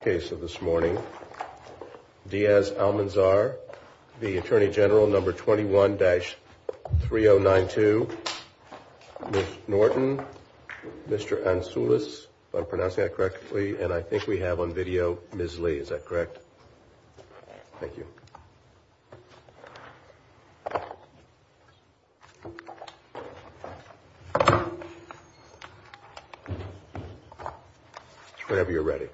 case of this morning, Diaz Almanzar, the Attorney General number 21-3092, Ms. Norton, Mr. Ansoulis, if I'm pronouncing that correctly, and I think we have on video Ms. Lee, is that correct? Thank you. Whenever you're ready.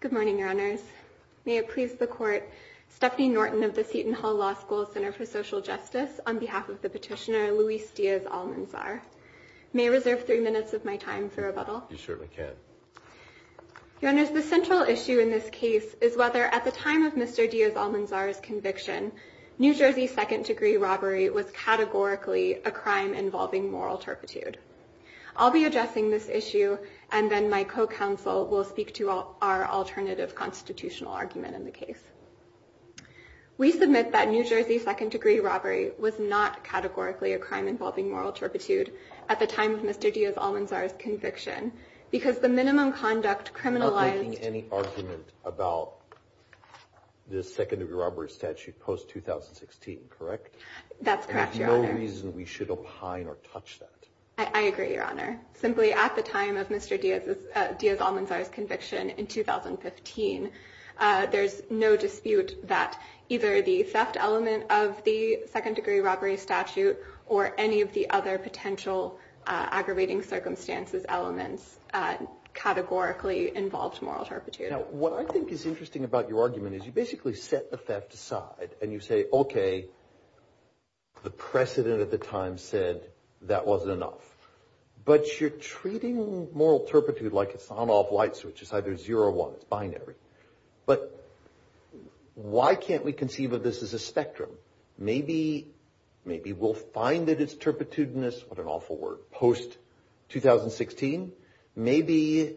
Good morning, Your Honors. May it please the Court, Stephanie Norton of the Seton Court of the Petitioner, Luis Diaz Almanzar. May I reserve three minutes of my time for rebuttal? You certainly can. Your Honors, the central issue in this case is whether, at the time of Mr. Diaz Almanzar's conviction, New Jersey second-degree robbery was categorically a crime involving moral turpitude. I'll be addressing this issue, and then my co-counsel will speak to our alternative constitutional argument in the case. We submit that New Jersey second-degree robbery was not categorically a crime involving moral turpitude at the time of Mr. Diaz Almanzar's conviction, because the minimum conduct criminalized... I'm not making any argument about the second-degree robbery statute post-2016, correct? That's correct, Your Honor. There's no reason we should opine or touch that. I agree, Your Honor. Simply, at the time of Mr. Diaz Almanzar's conviction in 2015, there's no dispute that either the theft element of the second-degree robbery statute or any of the other potential aggravating circumstances elements categorically involved moral turpitude. Now, what I think is interesting about your argument is you basically set the theft aside, and you say, okay, the precedent at the time said that wasn't enough. But you're treating moral turpitude like it's on-off light switch. It's either zero or one. It's binary. But why can't we conceive of this as a spectrum? Maybe we'll find that it's turpitudinous. What an awful word. Post-2016, maybe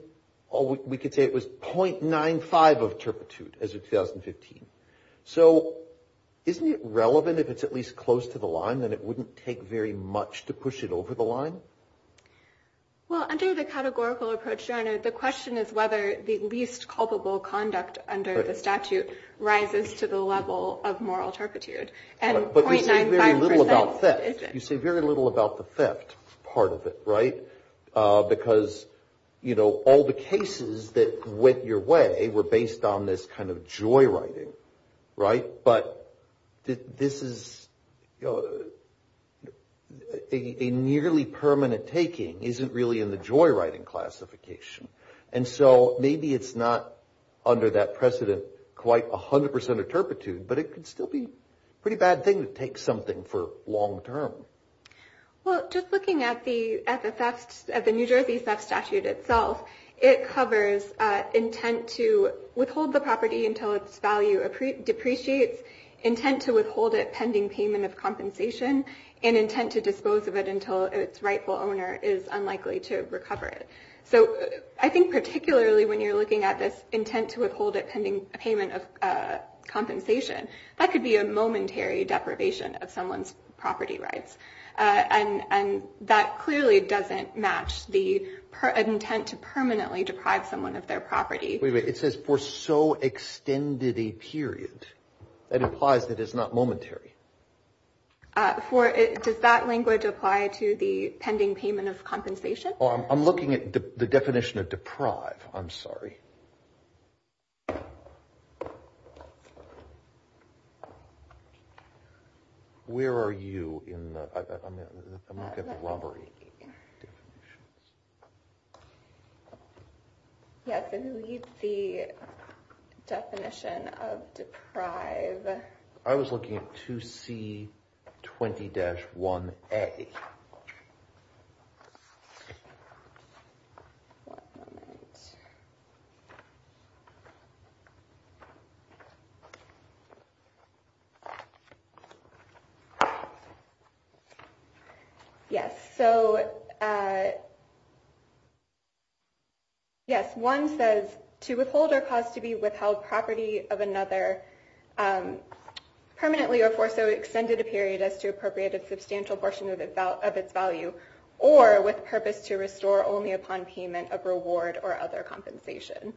we could say it was .95 of turpitude as of 2015. So isn't it relevant, if it's at least close to the line, that it wouldn't take very much to push it over the line? Well, under the categorical approach, Your Honor, the question is whether the least culpable conduct under the statute rises to the level of moral turpitude. But you say very little about theft. You say very little about the theft part of it, right? Because, you know, all the cases that went your way were based on this kind of joyriding, right? But this is a nearly permanent taking isn't really in the joyriding classification. And so maybe it's not under that precedent quite 100% of turpitude, but it could still be a pretty bad thing to take something for long term. Well, just looking at the New Jersey theft statute itself, it covers intent to withhold the property until its value depreciates, intent to withhold it pending payment of compensation, and intent to dispose of it until its rightful owner is unlikely to recover it. So I think particularly when you're looking at this intent to withhold it pending payment of compensation, that could be a momentary deprivation of someone's property rights. And that clearly doesn't match the intent to permanently deprive someone of their property. Wait a minute. It says for so extended a period. That implies that it's not momentary. Does that language apply to the pending payment of compensation? I'm looking at the definition of deprive. I'm sorry. Where are you? I'm going to get the lumber. Yes. And who needs the definition of deprive? I was looking at 2C20-1A. One moment. Yes. So yes, one says to withhold or cause to be withheld property of another permanently or for so extended a period as to appropriate a substantial portion of its value or with purpose to restore only upon payment of reward or other compensation.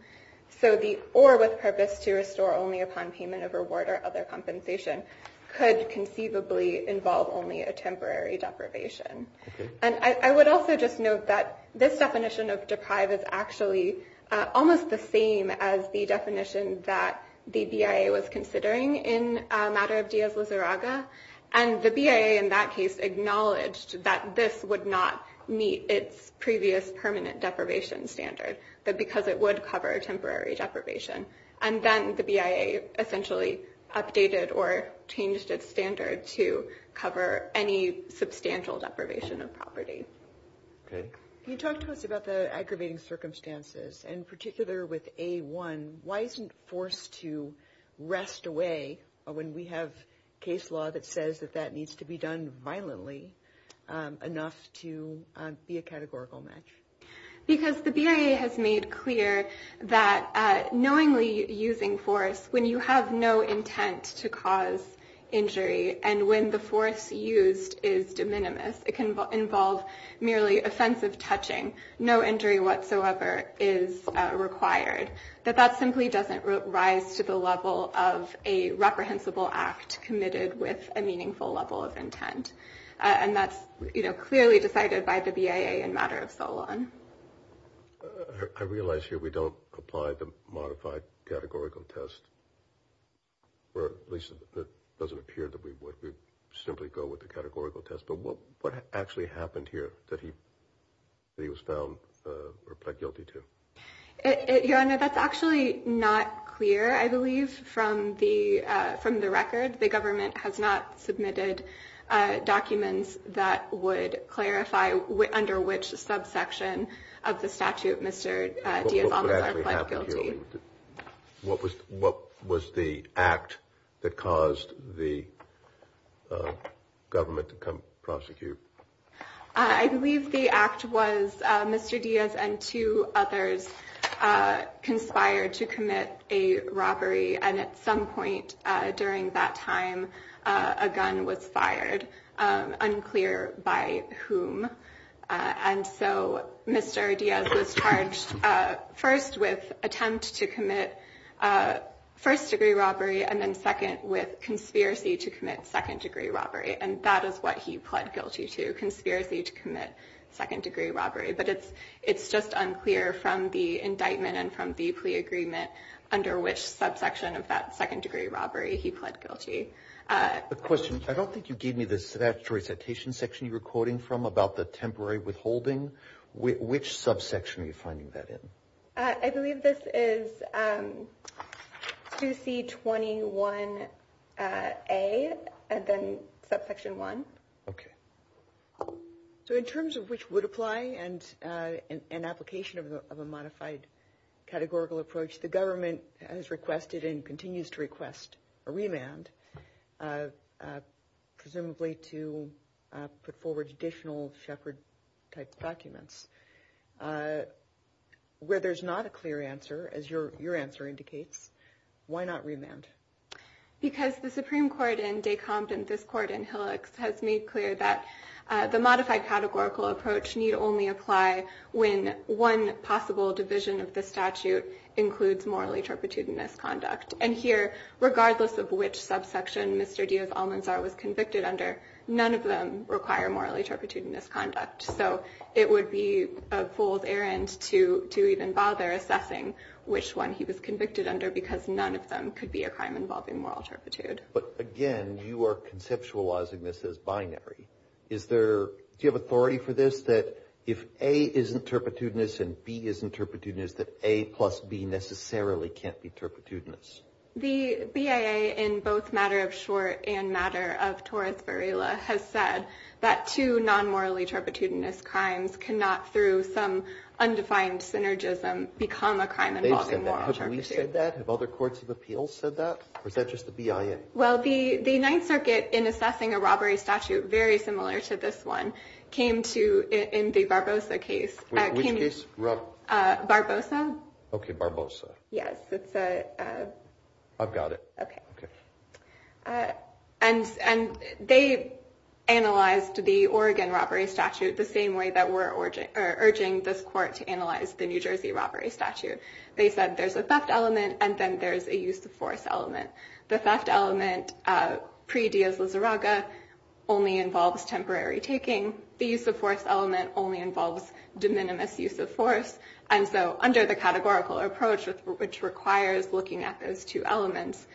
So the or with purpose to restore only upon payment of reward or other compensation could conceivably involve only a temporary deprivation. And I would also just note that this definition of deprive is actually almost the same as the definition that the BIA was considering in a matter of Diaz-Lizarraga. And the BIA in that case acknowledged that this would not meet its previous permanent deprivation standard, that because it would cover a temporary deprivation. And then the BIA essentially updated or changed its standard to cover any substantial deprivation of property. Can you talk to us about the aggravating circumstances, in particular with A1? Why isn't force to rest away when we have case law that says that that needs to be done violently enough to be a categorical match? Because the BIA has made clear that knowingly using force when you have no intent to cause injury and when the force used is de minimis, it can involve merely offensive touching. No injury whatsoever is required. That that simply doesn't rise to the level of a reprehensible act committed with a meaningful level of intent. And that's clearly decided by the BIA in matter of Solon. I realize here we don't apply the modified categorical test, or at least it doesn't appear that we would. We simply go with the categorical test. But what actually happened here that he was found guilty to? Your Honor, that's actually not clear, I believe, from the from the record. The government has not submitted documents that would clarify under which subsection of the statute. Mr. Diaz almost pled guilty. What was what was the act that caused the government to come prosecute? I believe the act was Mr. Diaz and two others conspired to commit a robbery. And at some point during that time, a gun was fired, unclear by whom. And so Mr. Diaz was charged first with attempt to commit first degree robbery and then second with conspiracy to commit second degree robbery. And that is what he pled guilty to, conspiracy to commit second degree robbery. But it's it's just unclear from the indictment and from the plea agreement under which subsection of that second degree robbery he pled guilty. The question I don't think you gave me this. That recitation section you were quoting from about the temporary withholding. Which subsection are you finding that in? I believe this is to see 21 a and then subsection one. So in terms of which would apply and an application of a modified categorical approach, the government has requested and continues to request a remand, presumably to put forward additional shepherd type documents where there's not a clear answer. As your your answer indicates, why not remand? Because the Supreme Court in Descompte and this court in Hillux has made clear that the modified categorical approach need only apply when one possible division of the statute includes morally turpitude and misconduct. And here, regardless of which subsection Mr. Diaz Almanzar was convicted under, none of them require morally turpitude and misconduct. So it would be a fool's errand to to even bother assessing which one he was convicted under because none of them could be a crime involving moral turpitude. But again, you are conceptualizing this as binary. Is there do you have authority for this, that if A isn't turpitude and B isn't turpitude, is that A plus B necessarily can't be turpitude? The BIA, in both matter of short and matter of torus virila, has said that two non-morally turpitudinous crimes cannot, through some undefined synergism, become a crime involving moral turpitude. Have we said that? Have other courts of appeals said that? Or is that just the BIA? Well, the the Ninth Circuit, in assessing a robbery statute very similar to this one, came to in the Barbosa case. Which case? Barbosa. Okay, Barbosa. Yes, it's a... I've got it. Okay. And they analyzed the Oregon robbery statute the same way that we're urging this court to analyze the New Jersey robbery statute. They said there's a theft element and then there's a use of force element. The theft element, pre-Diaz-Lizarraga, only involves temporary taking. The use of force element only involves de minimis use of force. And so under the categorical approach, which requires looking at those two elements,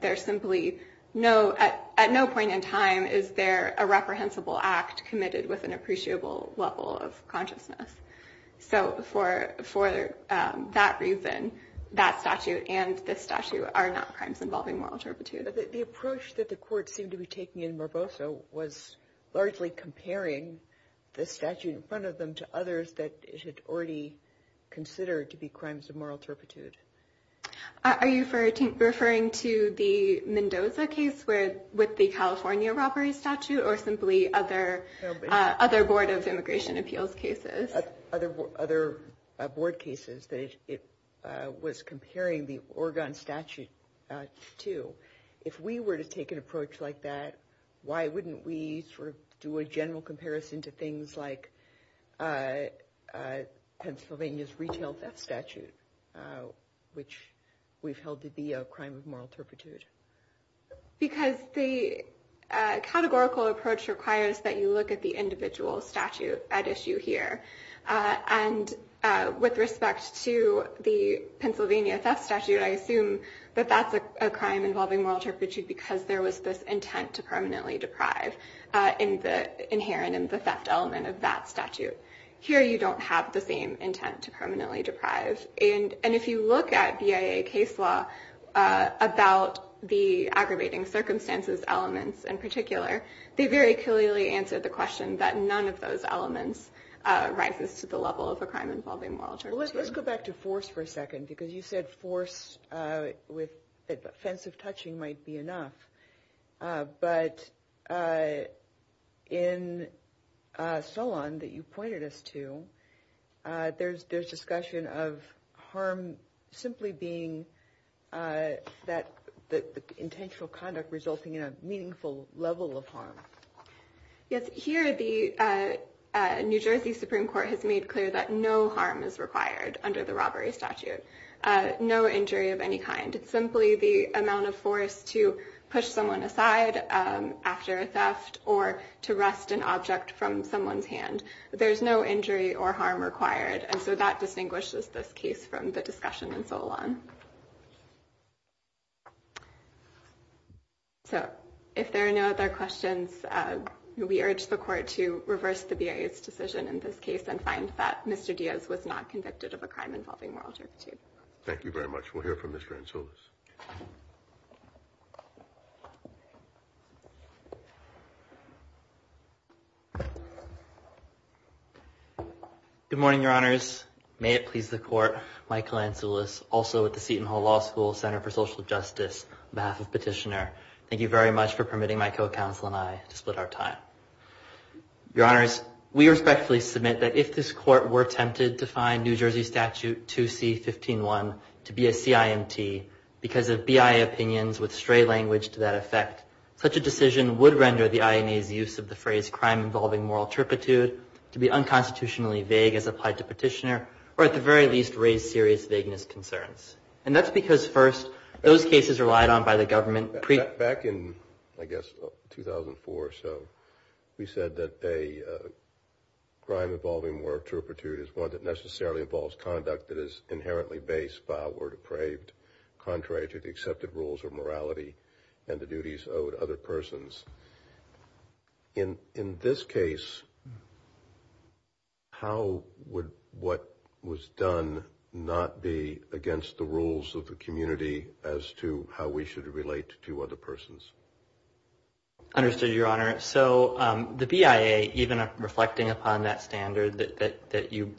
there's simply no... At no point in time is there a reprehensible act committed with an appreciable level of consciousness. So for that reason, that statute and this statute are not crimes involving moral turpitude. The approach that the court seemed to be taking in Barbosa was largely comparing the statute in front of them to others that it had already considered to be crimes of moral turpitude. Are you referring to the Mendoza case with the California robbery statute or simply other board of immigration appeals cases? Other board cases that it was comparing the Oregon statute to. If we were to take an approach like that, why wouldn't we sort of do a general comparison to things like Pennsylvania's retail theft statute, which we've held to be a crime of moral turpitude? Because the categorical approach requires that you look at the individual statute at issue here. And with respect to the Pennsylvania theft statute, I assume that that's a crime involving moral turpitude because there was this intent to permanently deprive in the inherent in the theft element of that statute. Here, you don't have the same intent to permanently deprive. And if you look at BIA case law about the aggravating circumstances elements in particular, they very clearly answer the question that none of those elements rises to the level of a crime involving moral turpitude. Let's go back to force for a second, because you said force with offensive touching might be enough. But in Solon that you pointed us to, there's there's discussion of harm simply being that the intentional conduct resulting in a meaningful level of harm. Yes, here the New Jersey Supreme Court has made clear that no harm is required under the robbery statute, no injury of any kind. It's simply the amount of force to push someone aside after a theft or to rest an object from someone's hand. There's no injury or harm required. And so that distinguishes this case from the discussion and so on. So if there are no other questions, we urge the court to reverse the BIA's decision in this case and find that Mr. Diaz was not convicted of a crime involving moral turpitude. Thank you very much. We'll hear from Mr. Ansoulis. Good morning, Your Honors. May it please the court, Michael Ansoulis, also at the Seton Hall Law School Center for Social Justice, on behalf of Petitioner. Thank you very much for permitting my co-counsel and I to split our time. Your Honors, we respectfully submit that if this court were tempted to find New Jersey Statute 2C-15-1 to be a CIMT, because of BIA opinions with stray language to that effect, such a decision would render the INA's use of the phrase, crime involving moral turpitude, to be unconstitutionally vague as applied to Petitioner, or at the very least raise serious vagueness concerns. And that's because, first, those cases relied on by the government pre- Back in, I guess, 2004 or so, we said that a crime involving moral turpitude is one that necessarily involves conduct that is inherently based filed or depraved, contrary to the accepted rules of morality and the duties owed other persons. In this case, how would what was done not be against the rules of the community as to how we should relate to other persons? Understood, Your Honor. So the BIA, even reflecting upon that standard that you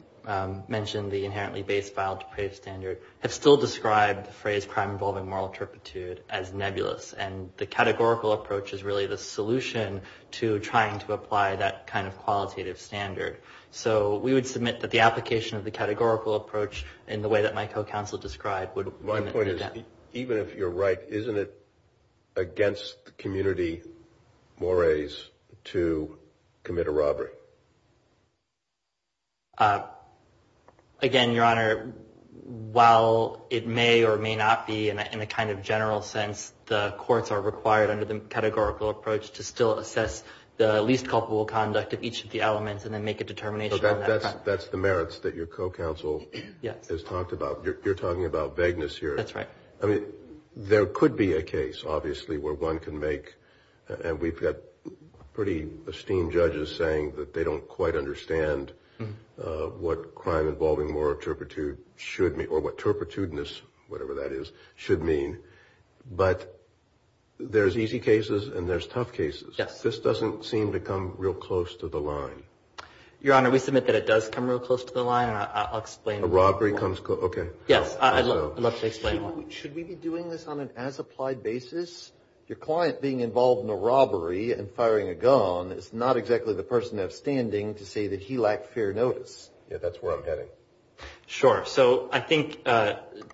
mentioned, the inherently based, filed, depraved standard, has still described the phrase, crime involving moral turpitude, as nebulous. And the categorical approach is really the solution to trying to apply that kind of qualitative standard. So we would submit that the application of the categorical approach in the way that my co-counsel described would limit it. Even if you're right, isn't it against the community mores to commit a robbery? Again, Your Honor, while it may or may not be in a kind of general sense, the courts are required under the categorical approach to still assess the least culpable conduct of each of the elements and then make a determination on that. That's the merits that your co-counsel has talked about. You're talking about vagueness here. That's right. I mean, there could be a case, obviously, where one can make, and we've got pretty esteemed judges saying that they don't quite understand what crime involving moral turpitude should mean, or what turpitude-ness, whatever that is, should mean. But there's easy cases and there's tough cases. Yes. This doesn't seem to come real close to the line. Your Honor, we submit that it does come real close to the line, and I'll explain. A robbery comes close. Okay. Yes, I'd love to explain. Should we be doing this on an as-applied basis? Your client being involved in a robbery and firing a gun is not exactly the person enough standing to say that he lacked fair notice. Yeah, that's where I'm heading. Sure. So I think to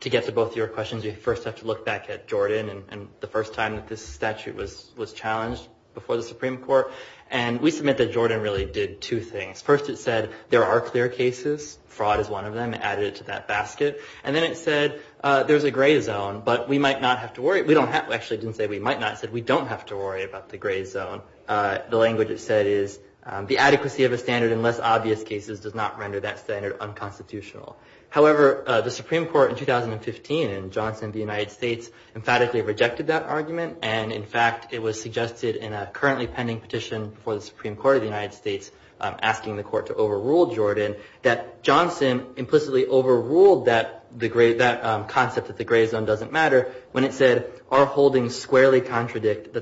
get to both of your questions, we first have to look back at Jordan and the first time that this statute was challenged before the Supreme Court, and we submit that Jordan really did two things. First, it said there are clear cases. Fraud is one of them. It added it to that basket. And then it said there's a gray zone, but we might not have to worry. Actually, it didn't say we might not. It said we don't have to worry about the gray zone. The language it said is the adequacy of a standard in less obvious cases does not render that standard unconstitutional. However, the Supreme Court in 2015 in Johnson v. United States emphatically rejected that argument, and, in fact, it was suggested in a currently pending petition before the Supreme Court of the United States asking the court to overrule Jordan that Johnson implicitly overruled that concept that the gray zone doesn't matter when it said our holdings squarely contradict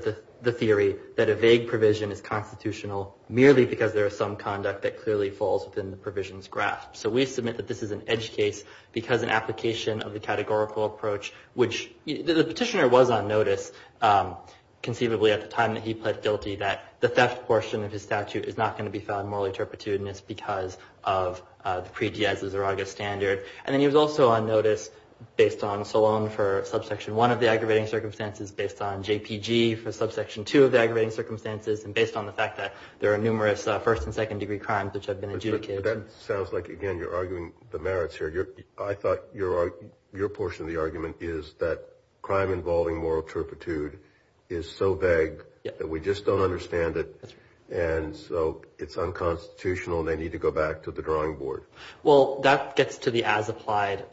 the theory that a vague provision is constitutional merely because there is some conduct that clearly falls within the provision's grasp. So we submit that this is an edge case because an application of the categorical approach, which the petitioner was on notice conceivably at the time that he pled guilty that the theft portion of his statute is not going to be found morally turpitude, and it's because of the pre-Diaz-Zuraga standard. And then he was also on notice based on Solon for subsection one of the aggravating circumstances, based on JPG for subsection two of the aggravating circumstances, and based on the fact that there are numerous first- and second-degree crimes which have been adjudicated. But that sounds like, again, you're arguing the merits here. I thought your portion of the argument is that crime involving moral turpitude is so vague that we just don't understand it. That's right. And so it's unconstitutional, and they need to go back to the drawing board. Well, that gets to the as-applied,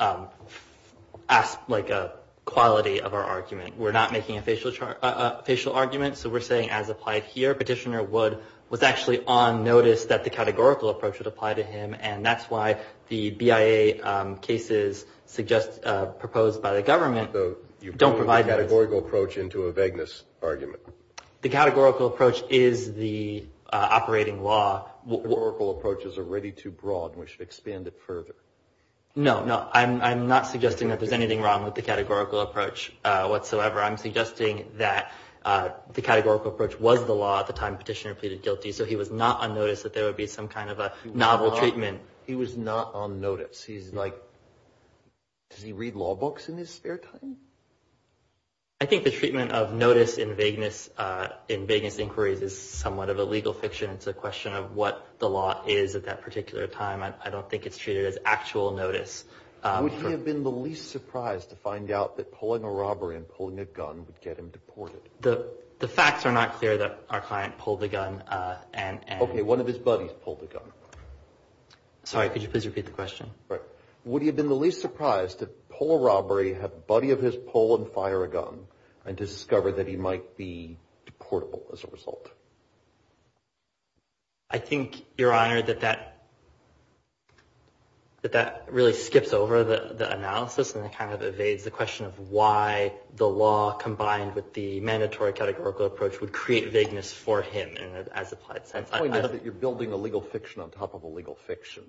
like a quality of our argument. We're not making a facial argument, so we're saying as-applied here. Petitioner was actually on notice that the categorical approach would apply to him, and that's why the BIA cases proposed by the government don't provide those. So you put the categorical approach into a vagueness argument. The categorical approach is the operating law. The categorical approach is already too broad, and we should expand it further. No, no. I'm not suggesting that there's anything wrong with the categorical approach whatsoever. I'm suggesting that the categorical approach was the law at the time Petitioner pleaded guilty, so he was not on notice that there would be some kind of a novel treatment. He was not on notice. He's like, does he read law books in his spare time? I think the treatment of notice in vagueness inquiries is somewhat of a legal fiction. It's a question of what the law is at that particular time. I don't think it's treated as actual notice. Would he have been the least surprised to find out that pulling a robbery and pulling a gun would get him deported? The facts are not clear that our client pulled a gun. Okay, one of his buddies pulled a gun. Sorry, could you please repeat the question? Would he have been the least surprised to pull a robbery, have a buddy of his pull and fire a gun, and to discover that he might be deportable as a result? I think, Your Honor, that that really skips over the analysis and it kind of evades the question of why the law combined with the mandatory categorical approach would create vagueness for him as applied science. The point is that you're building a legal fiction on top of a legal fiction.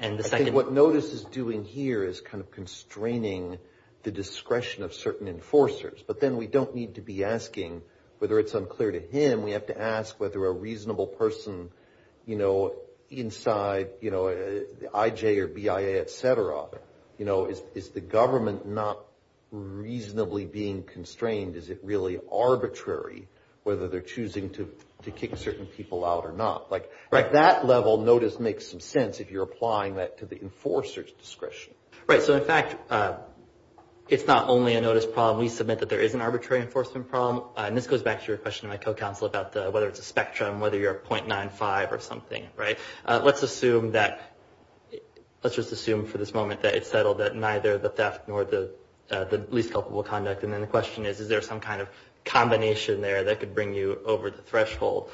I think what notice is doing here is kind of constraining the discretion of certain enforcers. But then we don't need to be asking whether it's unclear to him. We have to ask whether a reasonable person, you know, inside, you know, IJ or BIA, et cetera, you know, is the government not reasonably being constrained? Is it really arbitrary whether they're choosing to kick certain people out or not? Like that level notice makes some sense if you're applying that to the enforcer's discretion. Right. So, in fact, it's not only a notice problem. We submit that there is an arbitrary enforcement problem. And this goes back to your question to my co-counsel about whether it's a spectrum, whether you're a .95 or something, right? Let's just assume for this moment that it's settled that neither the theft nor the least culpable conduct. And then the question is, is there some kind of combination there that could bring you over the threshold?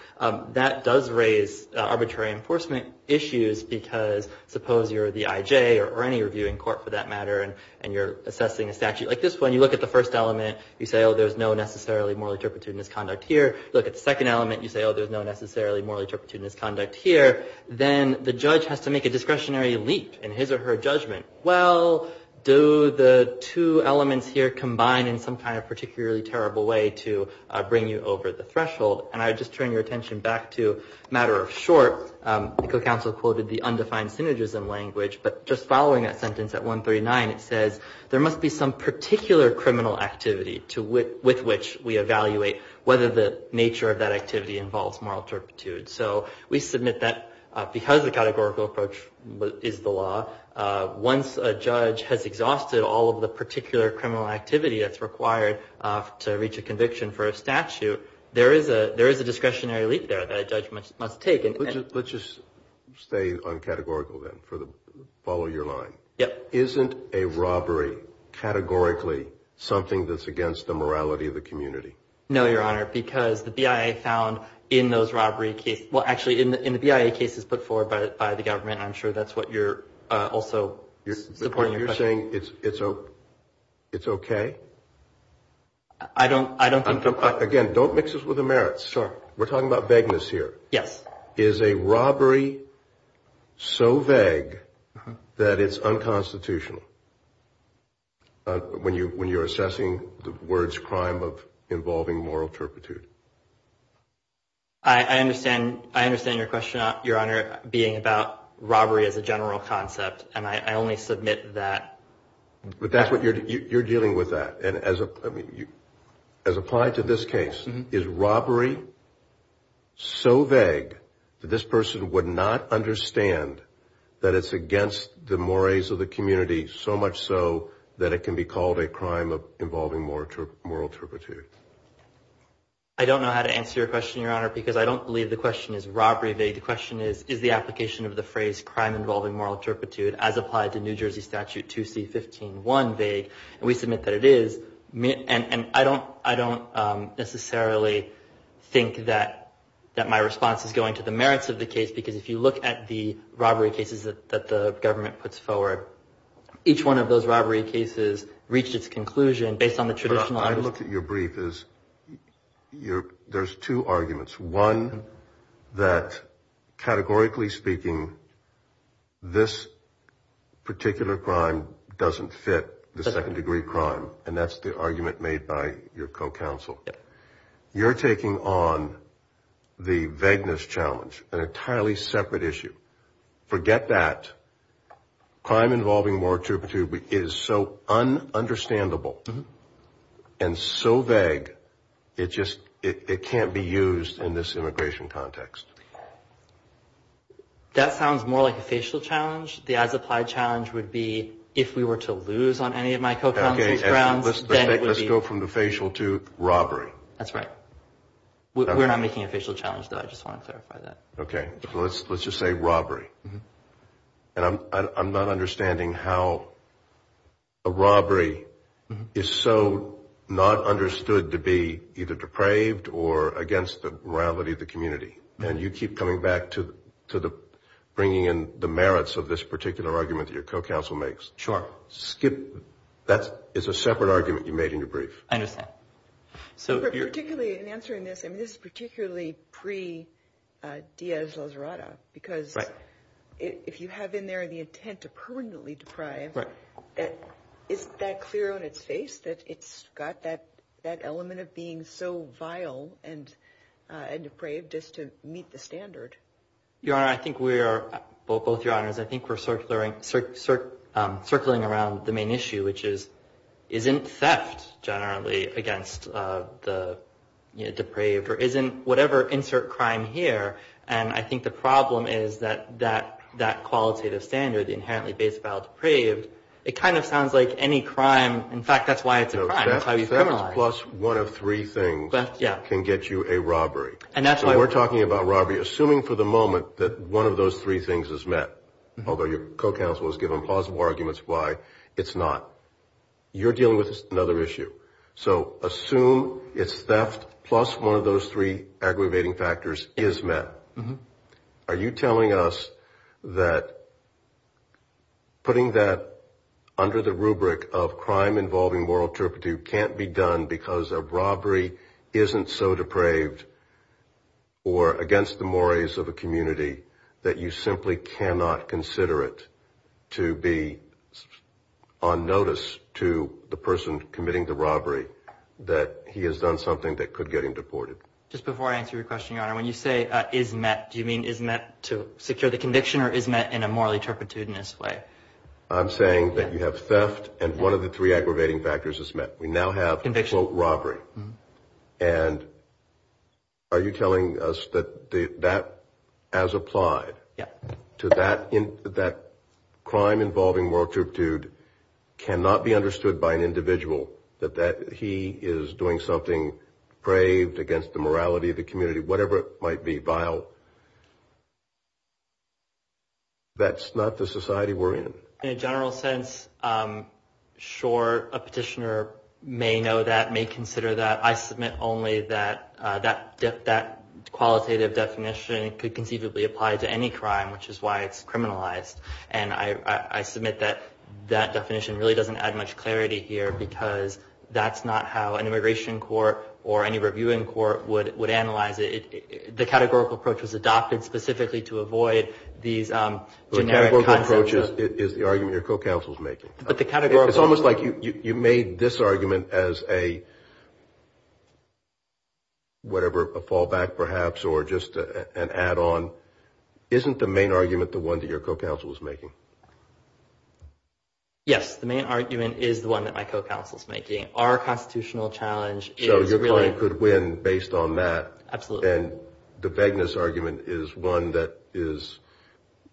That does raise arbitrary enforcement issues because suppose you're the IJ or any reviewing court, for that matter, and you're assessing a statute like this one, you look at the first element, you say, oh, there's no necessarily morally turpitude misconduct here. You look at the second element, you say, oh, there's no necessarily morally turpitude misconduct here. Then the judge has to make a discretionary leap in his or her judgment. Well, do the two elements here combine in some kind of particularly terrible way to bring you over the threshold? And I would just turn your attention back to a matter of short. The co-counsel quoted the undefined synergism language, but just following that sentence at 139, it says, there must be some particular criminal activity with which we evaluate whether the nature of that activity involves moral turpitude. So we submit that because the categorical approach is the law, once a judge has exhausted all of the particular criminal activity that's required to reach a conviction for a statute, there is a discretionary leap there that a judge must take. Let's just stay on categorical then, follow your line. Yep. Isn't a robbery categorically something that's against the morality of the community? No, Your Honor, because the BIA found in those robbery cases, well, actually, in the BIA cases put forward by the government, I'm sure that's what you're also supporting. You're saying it's okay? I don't think so. Again, don't mix us with the merits. Sure. We're talking about vagueness here. Yes. Is a robbery so vague that it's unconstitutional when you're assessing the words crime of involving moral turpitude? I understand your question, Your Honor, being about robbery as a general concept, and I only submit that. But you're dealing with that, and as applied to this case, is robbery so vague that this person would not understand that it's against the mores of the community, so much so that it can be called a crime of involving moral turpitude? I don't know how to answer your question, Your Honor, because I don't believe the question is robbery vague. The question is, is the application of the phrase crime involving moral turpitude as applied to New Jersey Statute 2C-15-1 vague? And we submit that it is. And I don't necessarily think that my response is going to the merits of the case, because if you look at the robbery cases that the government puts forward, each one of those robbery cases reached its conclusion based on the traditional – there's two arguments. One, that categorically speaking, this particular crime doesn't fit the second-degree crime, and that's the argument made by your co-counsel. You're taking on the vagueness challenge, an entirely separate issue. Forget that. Crime involving moral turpitude is so un-understandable and so vague, it just – it can't be used in this immigration context. That sounds more like a facial challenge. The as-applied challenge would be if we were to lose on any of my co-counsel's grounds, then it would be – Let's go from the facial to robbery. That's right. We're not making a facial challenge, though. I just want to clarify that. Okay. Let's just say robbery. And I'm not understanding how a robbery is so not understood to be either depraved or against the morality of the community, and you keep coming back to bringing in the merits of this particular argument that your co-counsel makes. Sure. Skip – that is a separate argument you made in your brief. I understand. Particularly in answering this, I mean, this is particularly pre-Diaz-Lazarada, because if you have in there the intent to permanently deprive, is that clear on its face that it's got that element of being so vile and depraved just to meet the standard? Your Honor, I think we are – both Your Honors, I think we're circling around the main issue, which is isn't theft generally against the depraved, or isn't whatever – insert crime here. And I think the problem is that that qualitative standard, the inherently base vile depraved, it kind of sounds like any crime – in fact, that's why it's a crime. That's how you criminalize. No, theft plus one of three things can get you a robbery. And that's why – So we're talking about robbery, assuming for the moment that one of those three things is met, although your co-counsel has given plausible arguments why it's not. You're dealing with another issue. So assume it's theft plus one of those three aggravating factors is met. Are you telling us that putting that under the rubric of crime involving moral turpitude can't be done because a robbery isn't so depraved or against the mores of a community that you simply cannot consider it to be on notice to the person committing the robbery that he has done something that could get him deported? Just before I answer your question, Your Honor, when you say is met, do you mean is met to secure the conviction or is met in a morally turpitudinous way? I'm saying that you have theft and one of the three aggravating factors is met. We now have, quote, robbery. And are you telling us that that as applied to that crime involving moral turpitude cannot be understood by an individual, that he is doing something braved against the morality of the community, whatever it might be, vile? That's not the society we're in. In a general sense, sure, a petitioner may know that, may consider that. I submit only that that qualitative definition could conceivably apply to any crime, which is why it's criminalized. And I submit that that definition really doesn't add much clarity here because that's not how an immigration court or any reviewing court would analyze it. The categorical approach was adopted specifically to avoid these generic concepts. Which is the argument your co-counsel is making. It's almost like you made this argument as a, whatever, a fallback perhaps or just an add-on. Isn't the main argument the one that your co-counsel is making? Yes, the main argument is the one that my co-counsel is making. Our constitutional challenge is really. So your client could win based on that. Absolutely. And the vagueness argument is one that is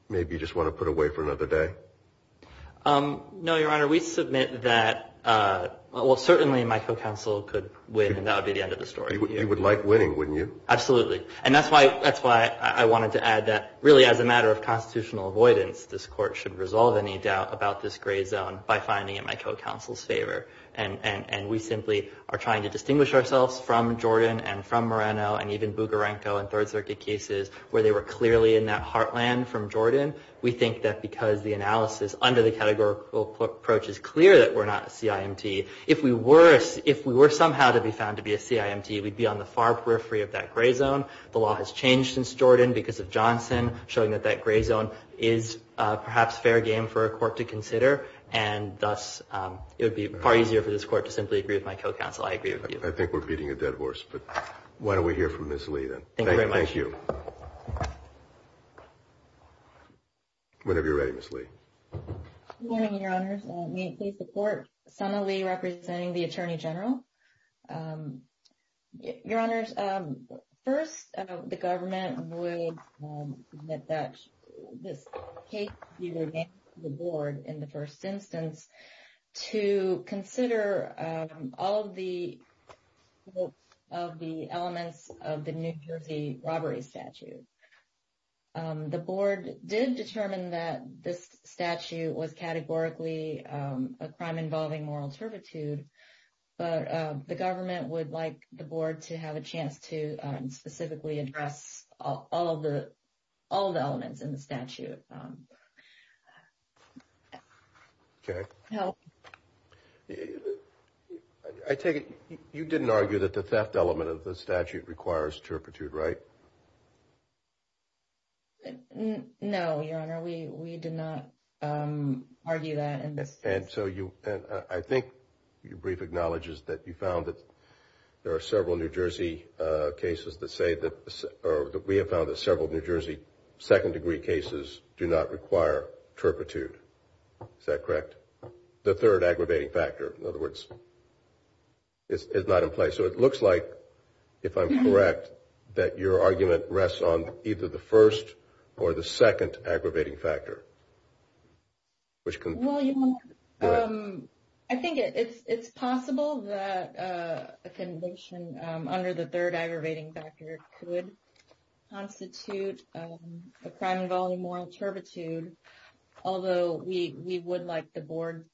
maybe you just want to put away for another day? No, Your Honor. We submit that, well, certainly my co-counsel could win and that would be the end of the story. You would like winning, wouldn't you? Absolutely. And that's why I wanted to add that really as a matter of constitutional avoidance, this court should resolve any doubt about this gray zone by finding it my co-counsel's favor. And we simply are trying to distinguish ourselves from Jordan and from Moreno and even Bugarenco and Third Circuit cases where they were clearly in that heartland from Jordan. We think that because the analysis under the categorical approach is clear that we're not a CIMT. If we were somehow to be found to be a CIMT, we'd be on the far periphery of that gray zone. The law has changed since Jordan because of Johnson, showing that that gray zone is perhaps fair game for a court to consider. And thus, it would be far easier for this court to simply agree with my co-counsel. I agree with you. I think we're beating a dead horse. But why don't we hear from Ms. Lee then? Thank you very much. Thank you. Whenever you're ready, Ms. Lee. Good morning, Your Honors. May it please the Court, Sena Lee representing the Attorney General. Your Honors, first, the government would admit that this case would be remanded to the Board in the first instance to consider all of the elements of the New Jersey robbery statute. The Board did determine that this statute was categorically a crime involving moral servitude, but the government would like the Board to have a chance to specifically address all of the elements in the statute. Okay. I take it you didn't argue that the theft element of the statute requires turpitude, right? No, Your Honor. We did not argue that. I think your brief acknowledges that you found that there are several New Jersey cases that say that or that we have found that several New Jersey second-degree cases do not require turpitude. Is that correct? The third aggravating factor, in other words, is not in play. So it looks like, if I'm correct, that your argument rests on either the first or the second aggravating factor. Well, Your Honor, I think it's possible that a condition under the third aggravating factor could constitute a crime involving moral turpitude, although we would like the Board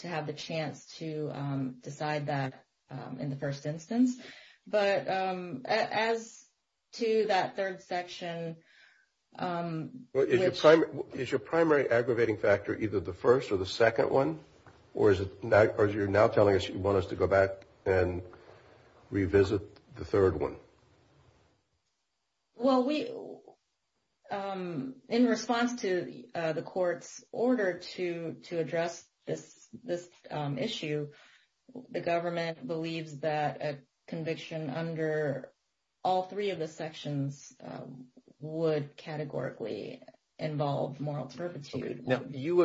to have the chance to decide that in the first instance. But as to that third section... Is your primary aggravating factor either the first or the second one, or you're now telling us you want us to go back and revisit the third one? Well, in response to the Court's order to address this issue, the government believes that a conviction under all three of the sections would categorically involve moral turpitude. Now, you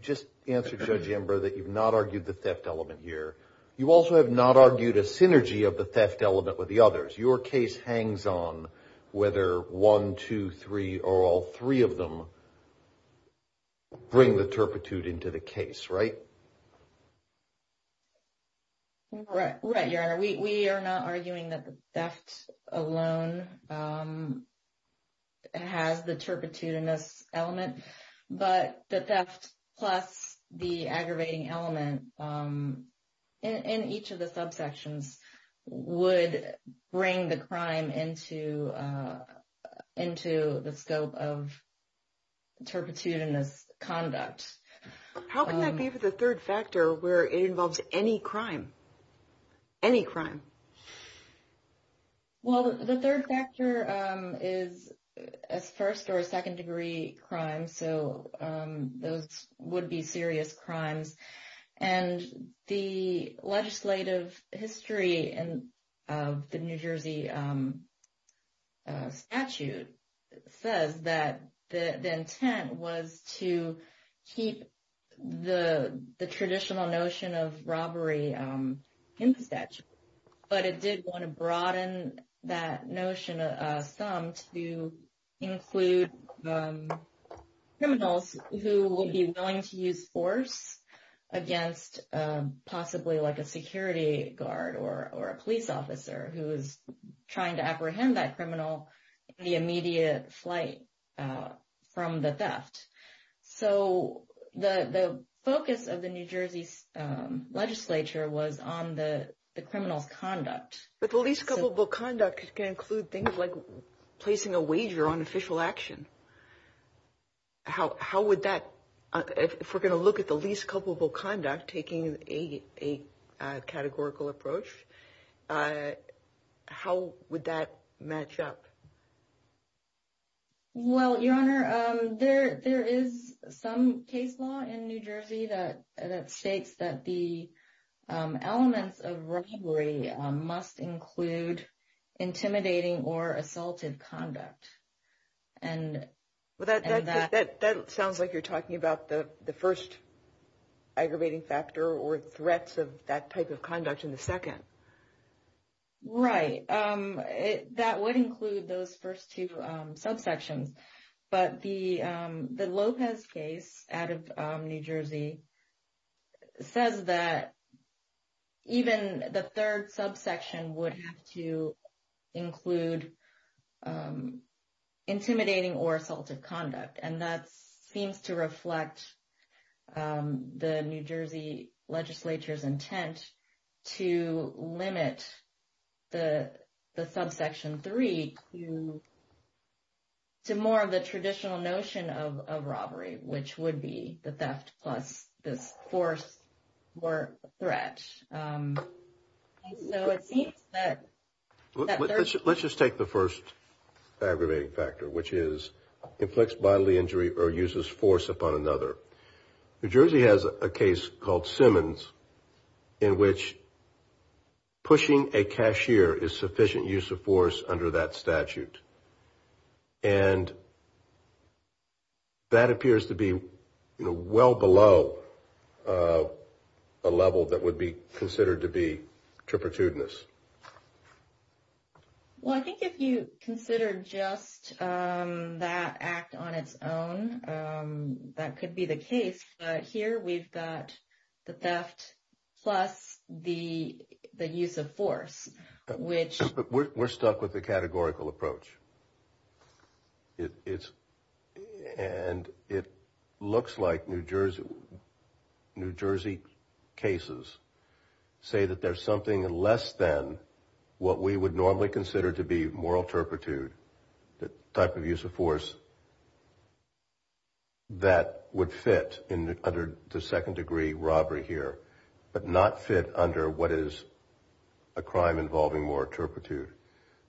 just answered, Judge Ember, that you've not argued the theft element here. You also have not argued a synergy of the theft element with the others. Your case hangs on whether one, two, three, or all three of them bring the turpitude into the case, right? Right, Your Honor. We are not arguing that the theft alone has the turpitude in this element. But the theft plus the aggravating element in each of the subsections would bring the crime into the scope of turpitude in this conduct. How can that be for the third factor where it involves any crime? Any crime? Well, the third factor is a first- or a second-degree crime, so those would be serious crimes. And the legislative history of the New Jersey statute says that the intent was to keep the traditional notion of robbery in the statute. But it did want to broaden that notion some to include criminals who will be willing to use force against possibly like a security guard or a police officer who is trying to apprehend that criminal in the immediate flight from the theft. So the focus of the New Jersey legislature was on the criminal conduct. But the least culpable conduct can include things like placing a wager on official action. How would that, if we're going to look at the least culpable conduct, taking a categorical approach, how would that match up? Well, Your Honor, there is some case law in New Jersey that states that the elements of robbery must include intimidating or assaultive conduct. That sounds like you're talking about the first aggravating factor or threats of that type of conduct in the second. Right. That would include those first two subsections. But the Lopez case out of New Jersey says that even the third subsection would have to include intimidating or assaultive conduct. And that seems to reflect the New Jersey legislature's intent to limit the subsection three to more of the traditional notion of robbery, which would be the theft plus this force or threat. So it seems that. Let's just take the first aggravating factor, which is inflicts bodily injury or uses force upon another. New Jersey has a case called Simmons in which pushing a cashier is sufficient use of force under that statute. And that appears to be well below a level that would be considered to be trepidatious. Well, I think if you consider just that act on its own, that could be the case. But here we've got the theft plus the use of force, which we're stuck with the categorical approach. It's and it looks like New Jersey, New Jersey cases say that there's something less than what we would normally consider to be moral turpitude. The type of use of force that would fit in under the second degree robbery here, but not fit under what is a crime involving more turpitude.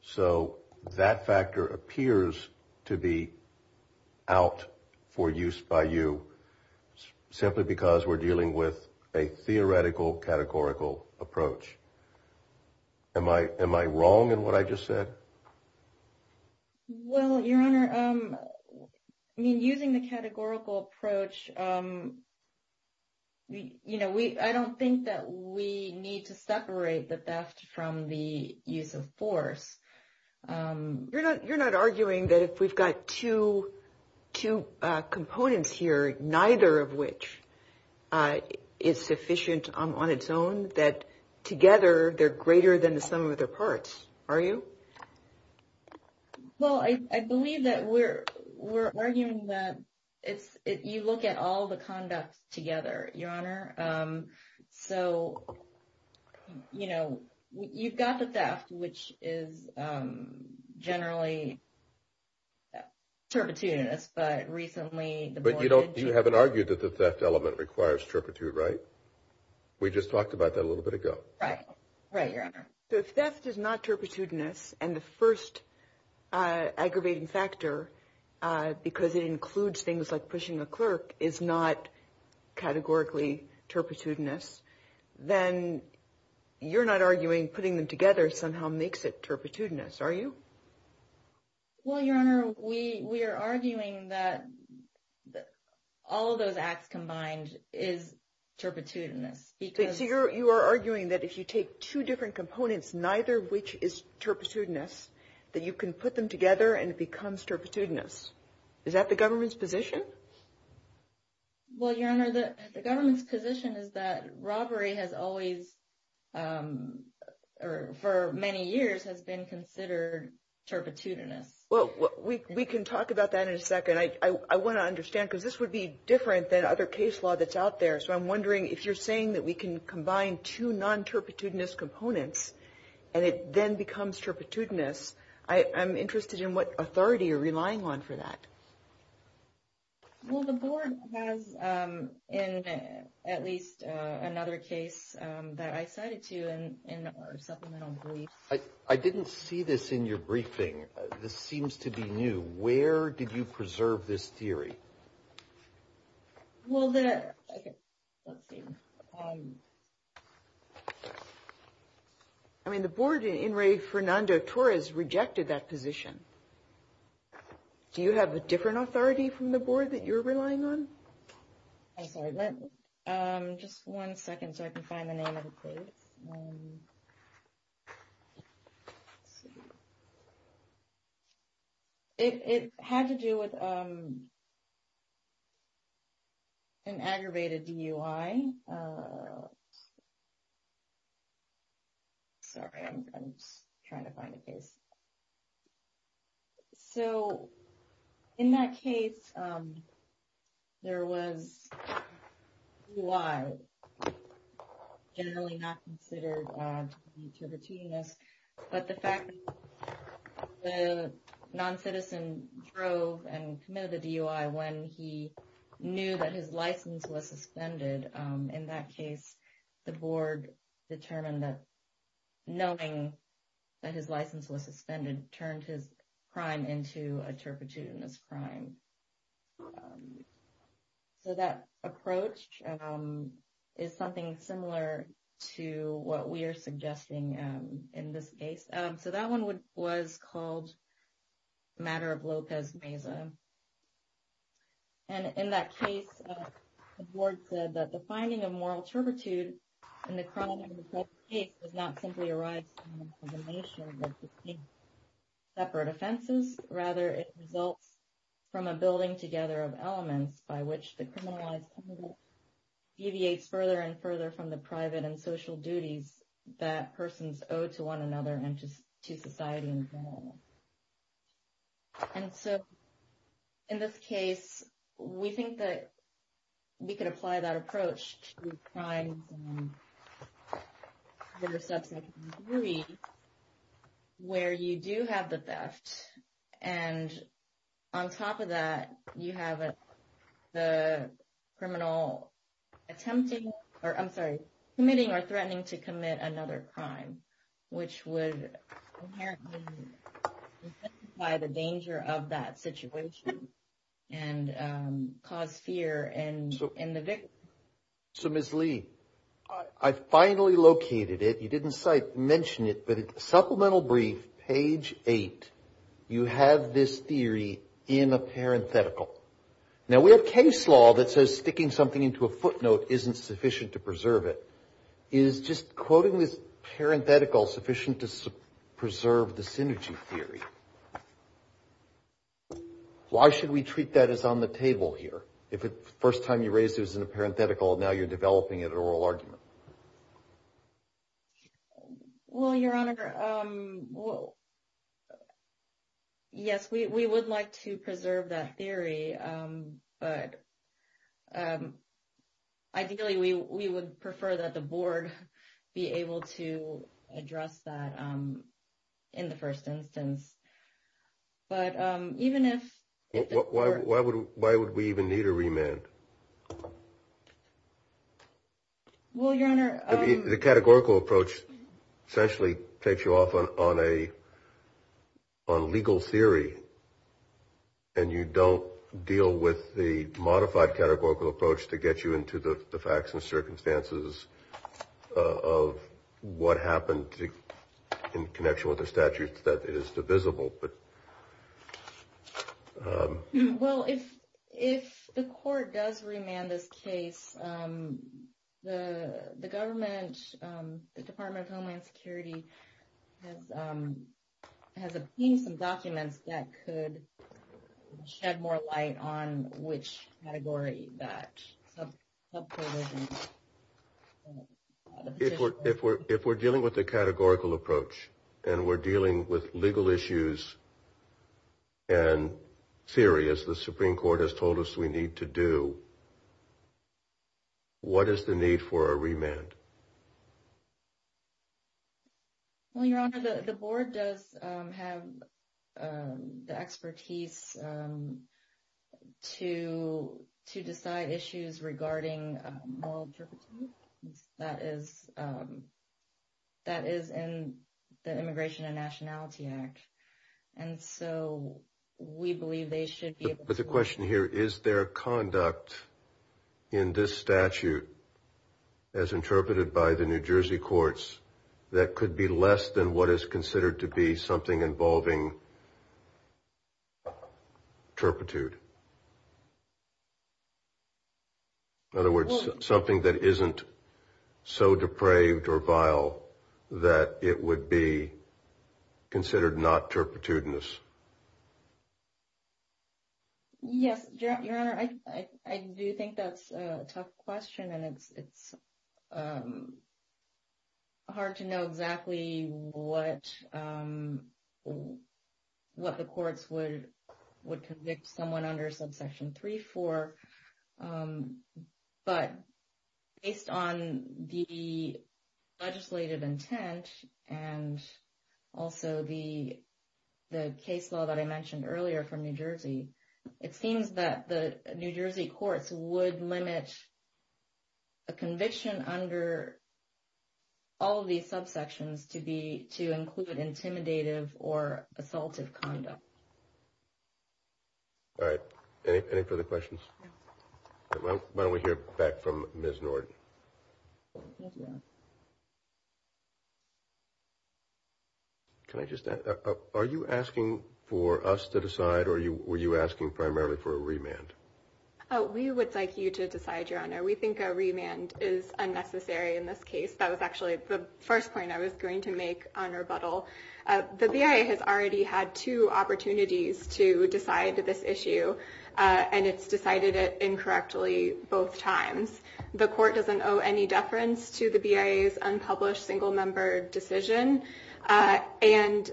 So that factor appears to be out for use by you simply because we're dealing with a theoretical categorical approach. Am I am I wrong in what I just said? Well, your honor, I mean, using the categorical approach. You know, we I don't think that we need to separate the theft from the use of force. You're not you're not arguing that if we've got to two components here, neither of which is sufficient on its own, that together they're greater than the sum of their parts. Are you? Well, I believe that we're we're arguing that if you look at all the conduct together, your honor. So, you know, you've got the theft, which is generally. But recently, but you don't you haven't argued that the theft element requires turpitude. Right. We just talked about that a little bit ago. Right. Right. Your honor, the theft is not turpitudinous. And the first aggravating factor, because it includes things like pushing a clerk, is not categorically turpitudinous. Then you're not arguing putting them together somehow makes it turpitudinous. Are you? Well, your honor, we we are arguing that all of those acts combined is turpitudinous. So you are arguing that if you take two different components, neither of which is turpitudinous, that you can put them together and it becomes turpitudinous. Is that the government's position? Well, your honor, the government's position is that robbery has always or for many years has been considered turpitudinous. Well, we can talk about that in a second. I want to understand, because this would be different than other case law that's out there. So I'm wondering if you're saying that we can combine two non turpitudinous components and it then becomes turpitudinous. I am interested in what authority you're relying on for that. Well, the board has in at least another case that I cited to in our supplemental briefs. I didn't see this in your briefing. This seems to be new. Where did you preserve this theory? Well, the. I mean, the board in Ray Fernando Torres rejected that position. Do you have a different authority from the board that you're relying on? I'm sorry. Just one second so I can find the name of the case. It had to do with. An aggravated DUI. Sorry, I'm trying to find a case. So in that case. There was. Why? Generally not considered to the genius, but the fact. The noncitizen drove and committed the DUI when he knew that his license was suspended. In that case, the board determined that. Knowing that his license was suspended, turned his crime into a turpitude in this crime. So that approach is something similar to what we are suggesting in this case. So that one would was called matter of Lopez Mesa. And in that case, the board said that the finding of moral turpitude in the crime is not simply arise. Separate offenses, rather, it results from a building together of elements by which the criminalized. Deviates further and further from the private and social duties that persons owe to one another and just to society. And so. In this case, we think that. We could apply that approach to crime. Where you do have the best. And on top of that, you have it. The criminal attempting or I'm sorry, committing or threatening to commit another crime, which would. By the danger of that situation and cause fear and in the. So, Miss Lee, I finally located it. You didn't mention it, but supplemental brief page eight. You have this theory in a parenthetical. Now, we have case law that says sticking something into a footnote isn't sufficient to preserve it. Is just quoting this parenthetical sufficient to preserve the synergy theory? Why should we treat that as on the table here? If it's the first time you raise this in a parenthetical, now you're developing it an oral argument. Well, Your Honor. Well. Yes, we would like to preserve that theory, but. Ideally, we would prefer that the board be able to address that in the first instance. But even if. Why would why would we even need a remand? Well, Your Honor, the categorical approach essentially takes you off on a. On legal theory. And you don't deal with the modified categorical approach to get you into the facts and circumstances of what happened. In connection with the statutes that it is divisible. But. Well, if if the court does remand this case, the government, the Department of Homeland Security. Has a piece of documents that could shed more light on which category that. If we're if we're if we're dealing with the categorical approach and we're dealing with legal issues. And serious, the Supreme Court has told us we need to do. What is the need for a remand? Well, Your Honor, the board does have the expertise. To to decide issues regarding. That is. That is in the Immigration and Nationality Act. And so we believe they should be. But the question here is their conduct in this statute. As interpreted by the New Jersey courts, that could be less than what is considered to be something involving. Turpitude. In other words, something that isn't so depraved or vile that it would be. Considered not turpitude in this. Yes, Your Honor, I, I do think that's a tough question and it's it's. Hard to know exactly what. What the courts would would convict someone under subsection three for. But based on the legislative intent and also the the case law that I mentioned earlier from New Jersey, it seems that the New Jersey courts would limit. A conviction under. All of these subsections to be to include an intimidative or assaultive conduct. All right. Any further questions? Why don't we hear back from Ms. Norton? Can I just ask, are you asking for us to decide or were you asking primarily for a remand? We would like you to decide, Your Honor. We think a remand is unnecessary in this case. That was actually the first point I was going to make on rebuttal. The BIA has already had two opportunities to decide this issue, and it's decided it incorrectly both times. The court doesn't owe any deference to the BIA's unpublished single member decision. And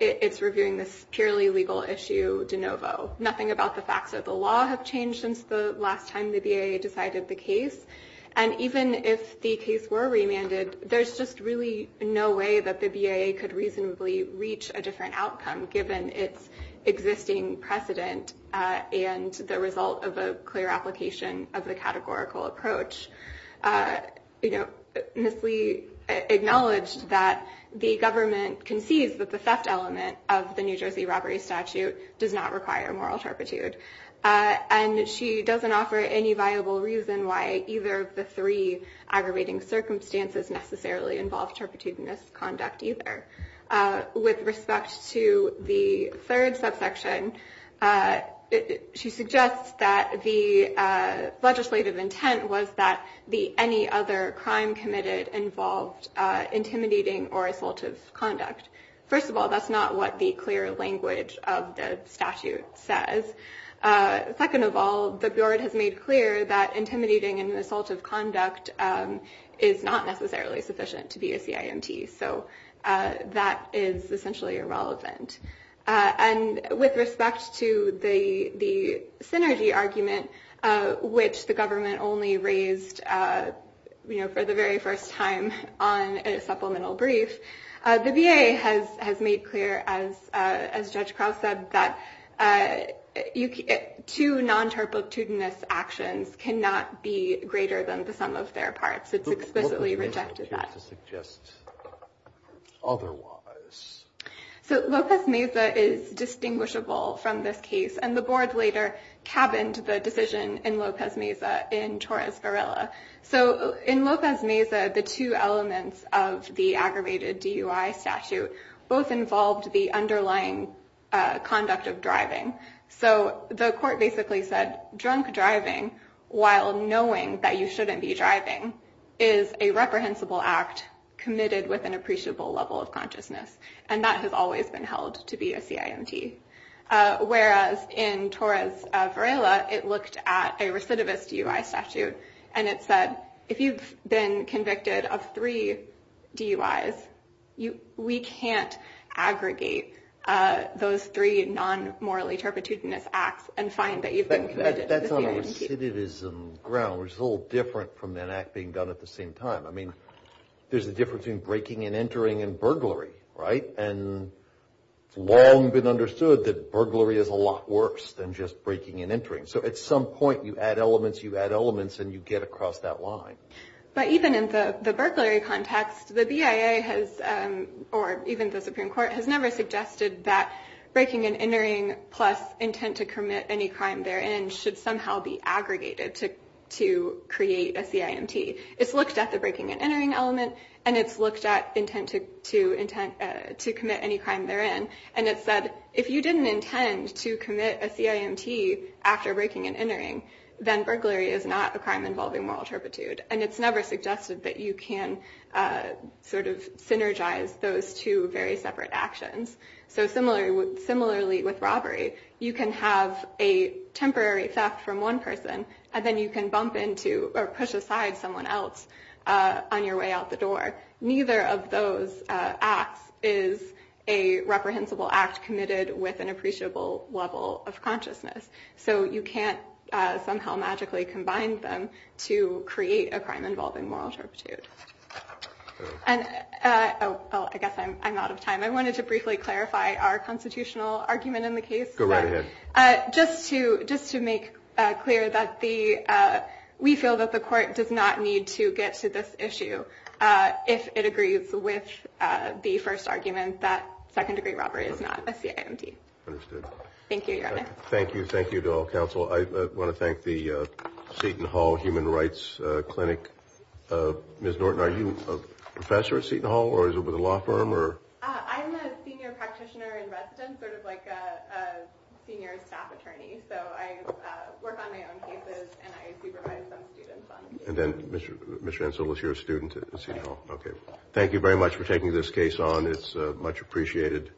it's reviewing this purely legal issue de novo. Nothing about the facts of the law have changed since the last time the BIA decided the case. And even if the case were remanded, there's just really no way that the BIA could reasonably reach a different outcome, given its existing precedent and the result of a clear application of the categorical approach. Ms. Lee acknowledged that the government concedes that the theft element of the New Jersey Robbery Statute does not require moral turpitude. And she doesn't offer any viable reason why either of the three aggravating circumstances necessarily involve turpitude misconduct either. With respect to the third subsection, she suggests that the legislative intent was that any other crime committed involved intimidating or assaultive conduct. First of all, that's not what the clear language of the statute says. Second of all, the BIA has made clear that intimidating and assaultive conduct is not necessarily sufficient to be a CIMT. So that is essentially irrelevant. And with respect to the synergy argument, which the government only raised for the very first time on a supplemental brief, the BIA has made clear, as Judge Krause said, that two non-turpitudinous actions cannot be greater than the sum of their parts. It's explicitly rejected that. Otherwise... So Lopez Meza is distinguishable from this case, and the board later cabined the decision in Lopez Meza in Torres Varela. So in Lopez Meza, the two elements of the aggravated DUI statute both involved the underlying conduct of driving. So the court basically said drunk driving while knowing that you shouldn't be driving is a reprehensible act committed with an appreciable level of consciousness. And that has always been held to be a CIMT. Whereas in Torres Varela, it looked at a recidivist DUI statute, and it said, if you've been convicted of three DUIs, we can't aggregate those three non-morally turpitudinous acts and find that you've been convicted of a CIMT. But that's on a recidivism ground, which is a little different from an act being done at the same time. I mean, there's a difference between breaking and entering and burglary, right? And it's long been understood that burglary is a lot worse than just breaking and entering. So at some point, you add elements, you add elements, and you get across that line. But even in the burglary context, the BIA has, or even the Supreme Court, has never suggested that breaking and entering plus intent to commit any crime therein should somehow be aggregated to create a CIMT. It's looked at the breaking and entering element, and it's looked at intent to commit any crime therein. And it said, if you didn't intend to commit a CIMT after breaking and entering, then burglary is not a crime involving moral turpitude. And it's never suggested that you can synergize those two very separate actions. So similarly with robbery, you can have a temporary theft from one person, and then you can bump into or push aside someone else on your way out the door. Neither of those acts is a reprehensible act committed with an appreciable level of consciousness. So you can't somehow magically combine them to create a crime involving moral turpitude. And I guess I'm out of time. I wanted to briefly clarify our constitutional argument in the case. Go right ahead. Just to make clear that we feel that the court does not need to get to this issue if it agrees with the first argument that second degree robbery is not a CIMT. Understood. Thank you, Your Honor. Thank you. Thank you to all counsel. I want to thank the Seton Hall Human Rights Clinic. Ms. Norton, are you a professor at Seton Hall, or is it with a law firm? I'm a senior practitioner in residence, sort of like a senior staff attorney. So I work on my own cases, and I supervise some students on the case. And then Mr. Ansel is your student at Seton Hall? Yes. Okay. Thank you very much for taking this case on. It's much appreciated.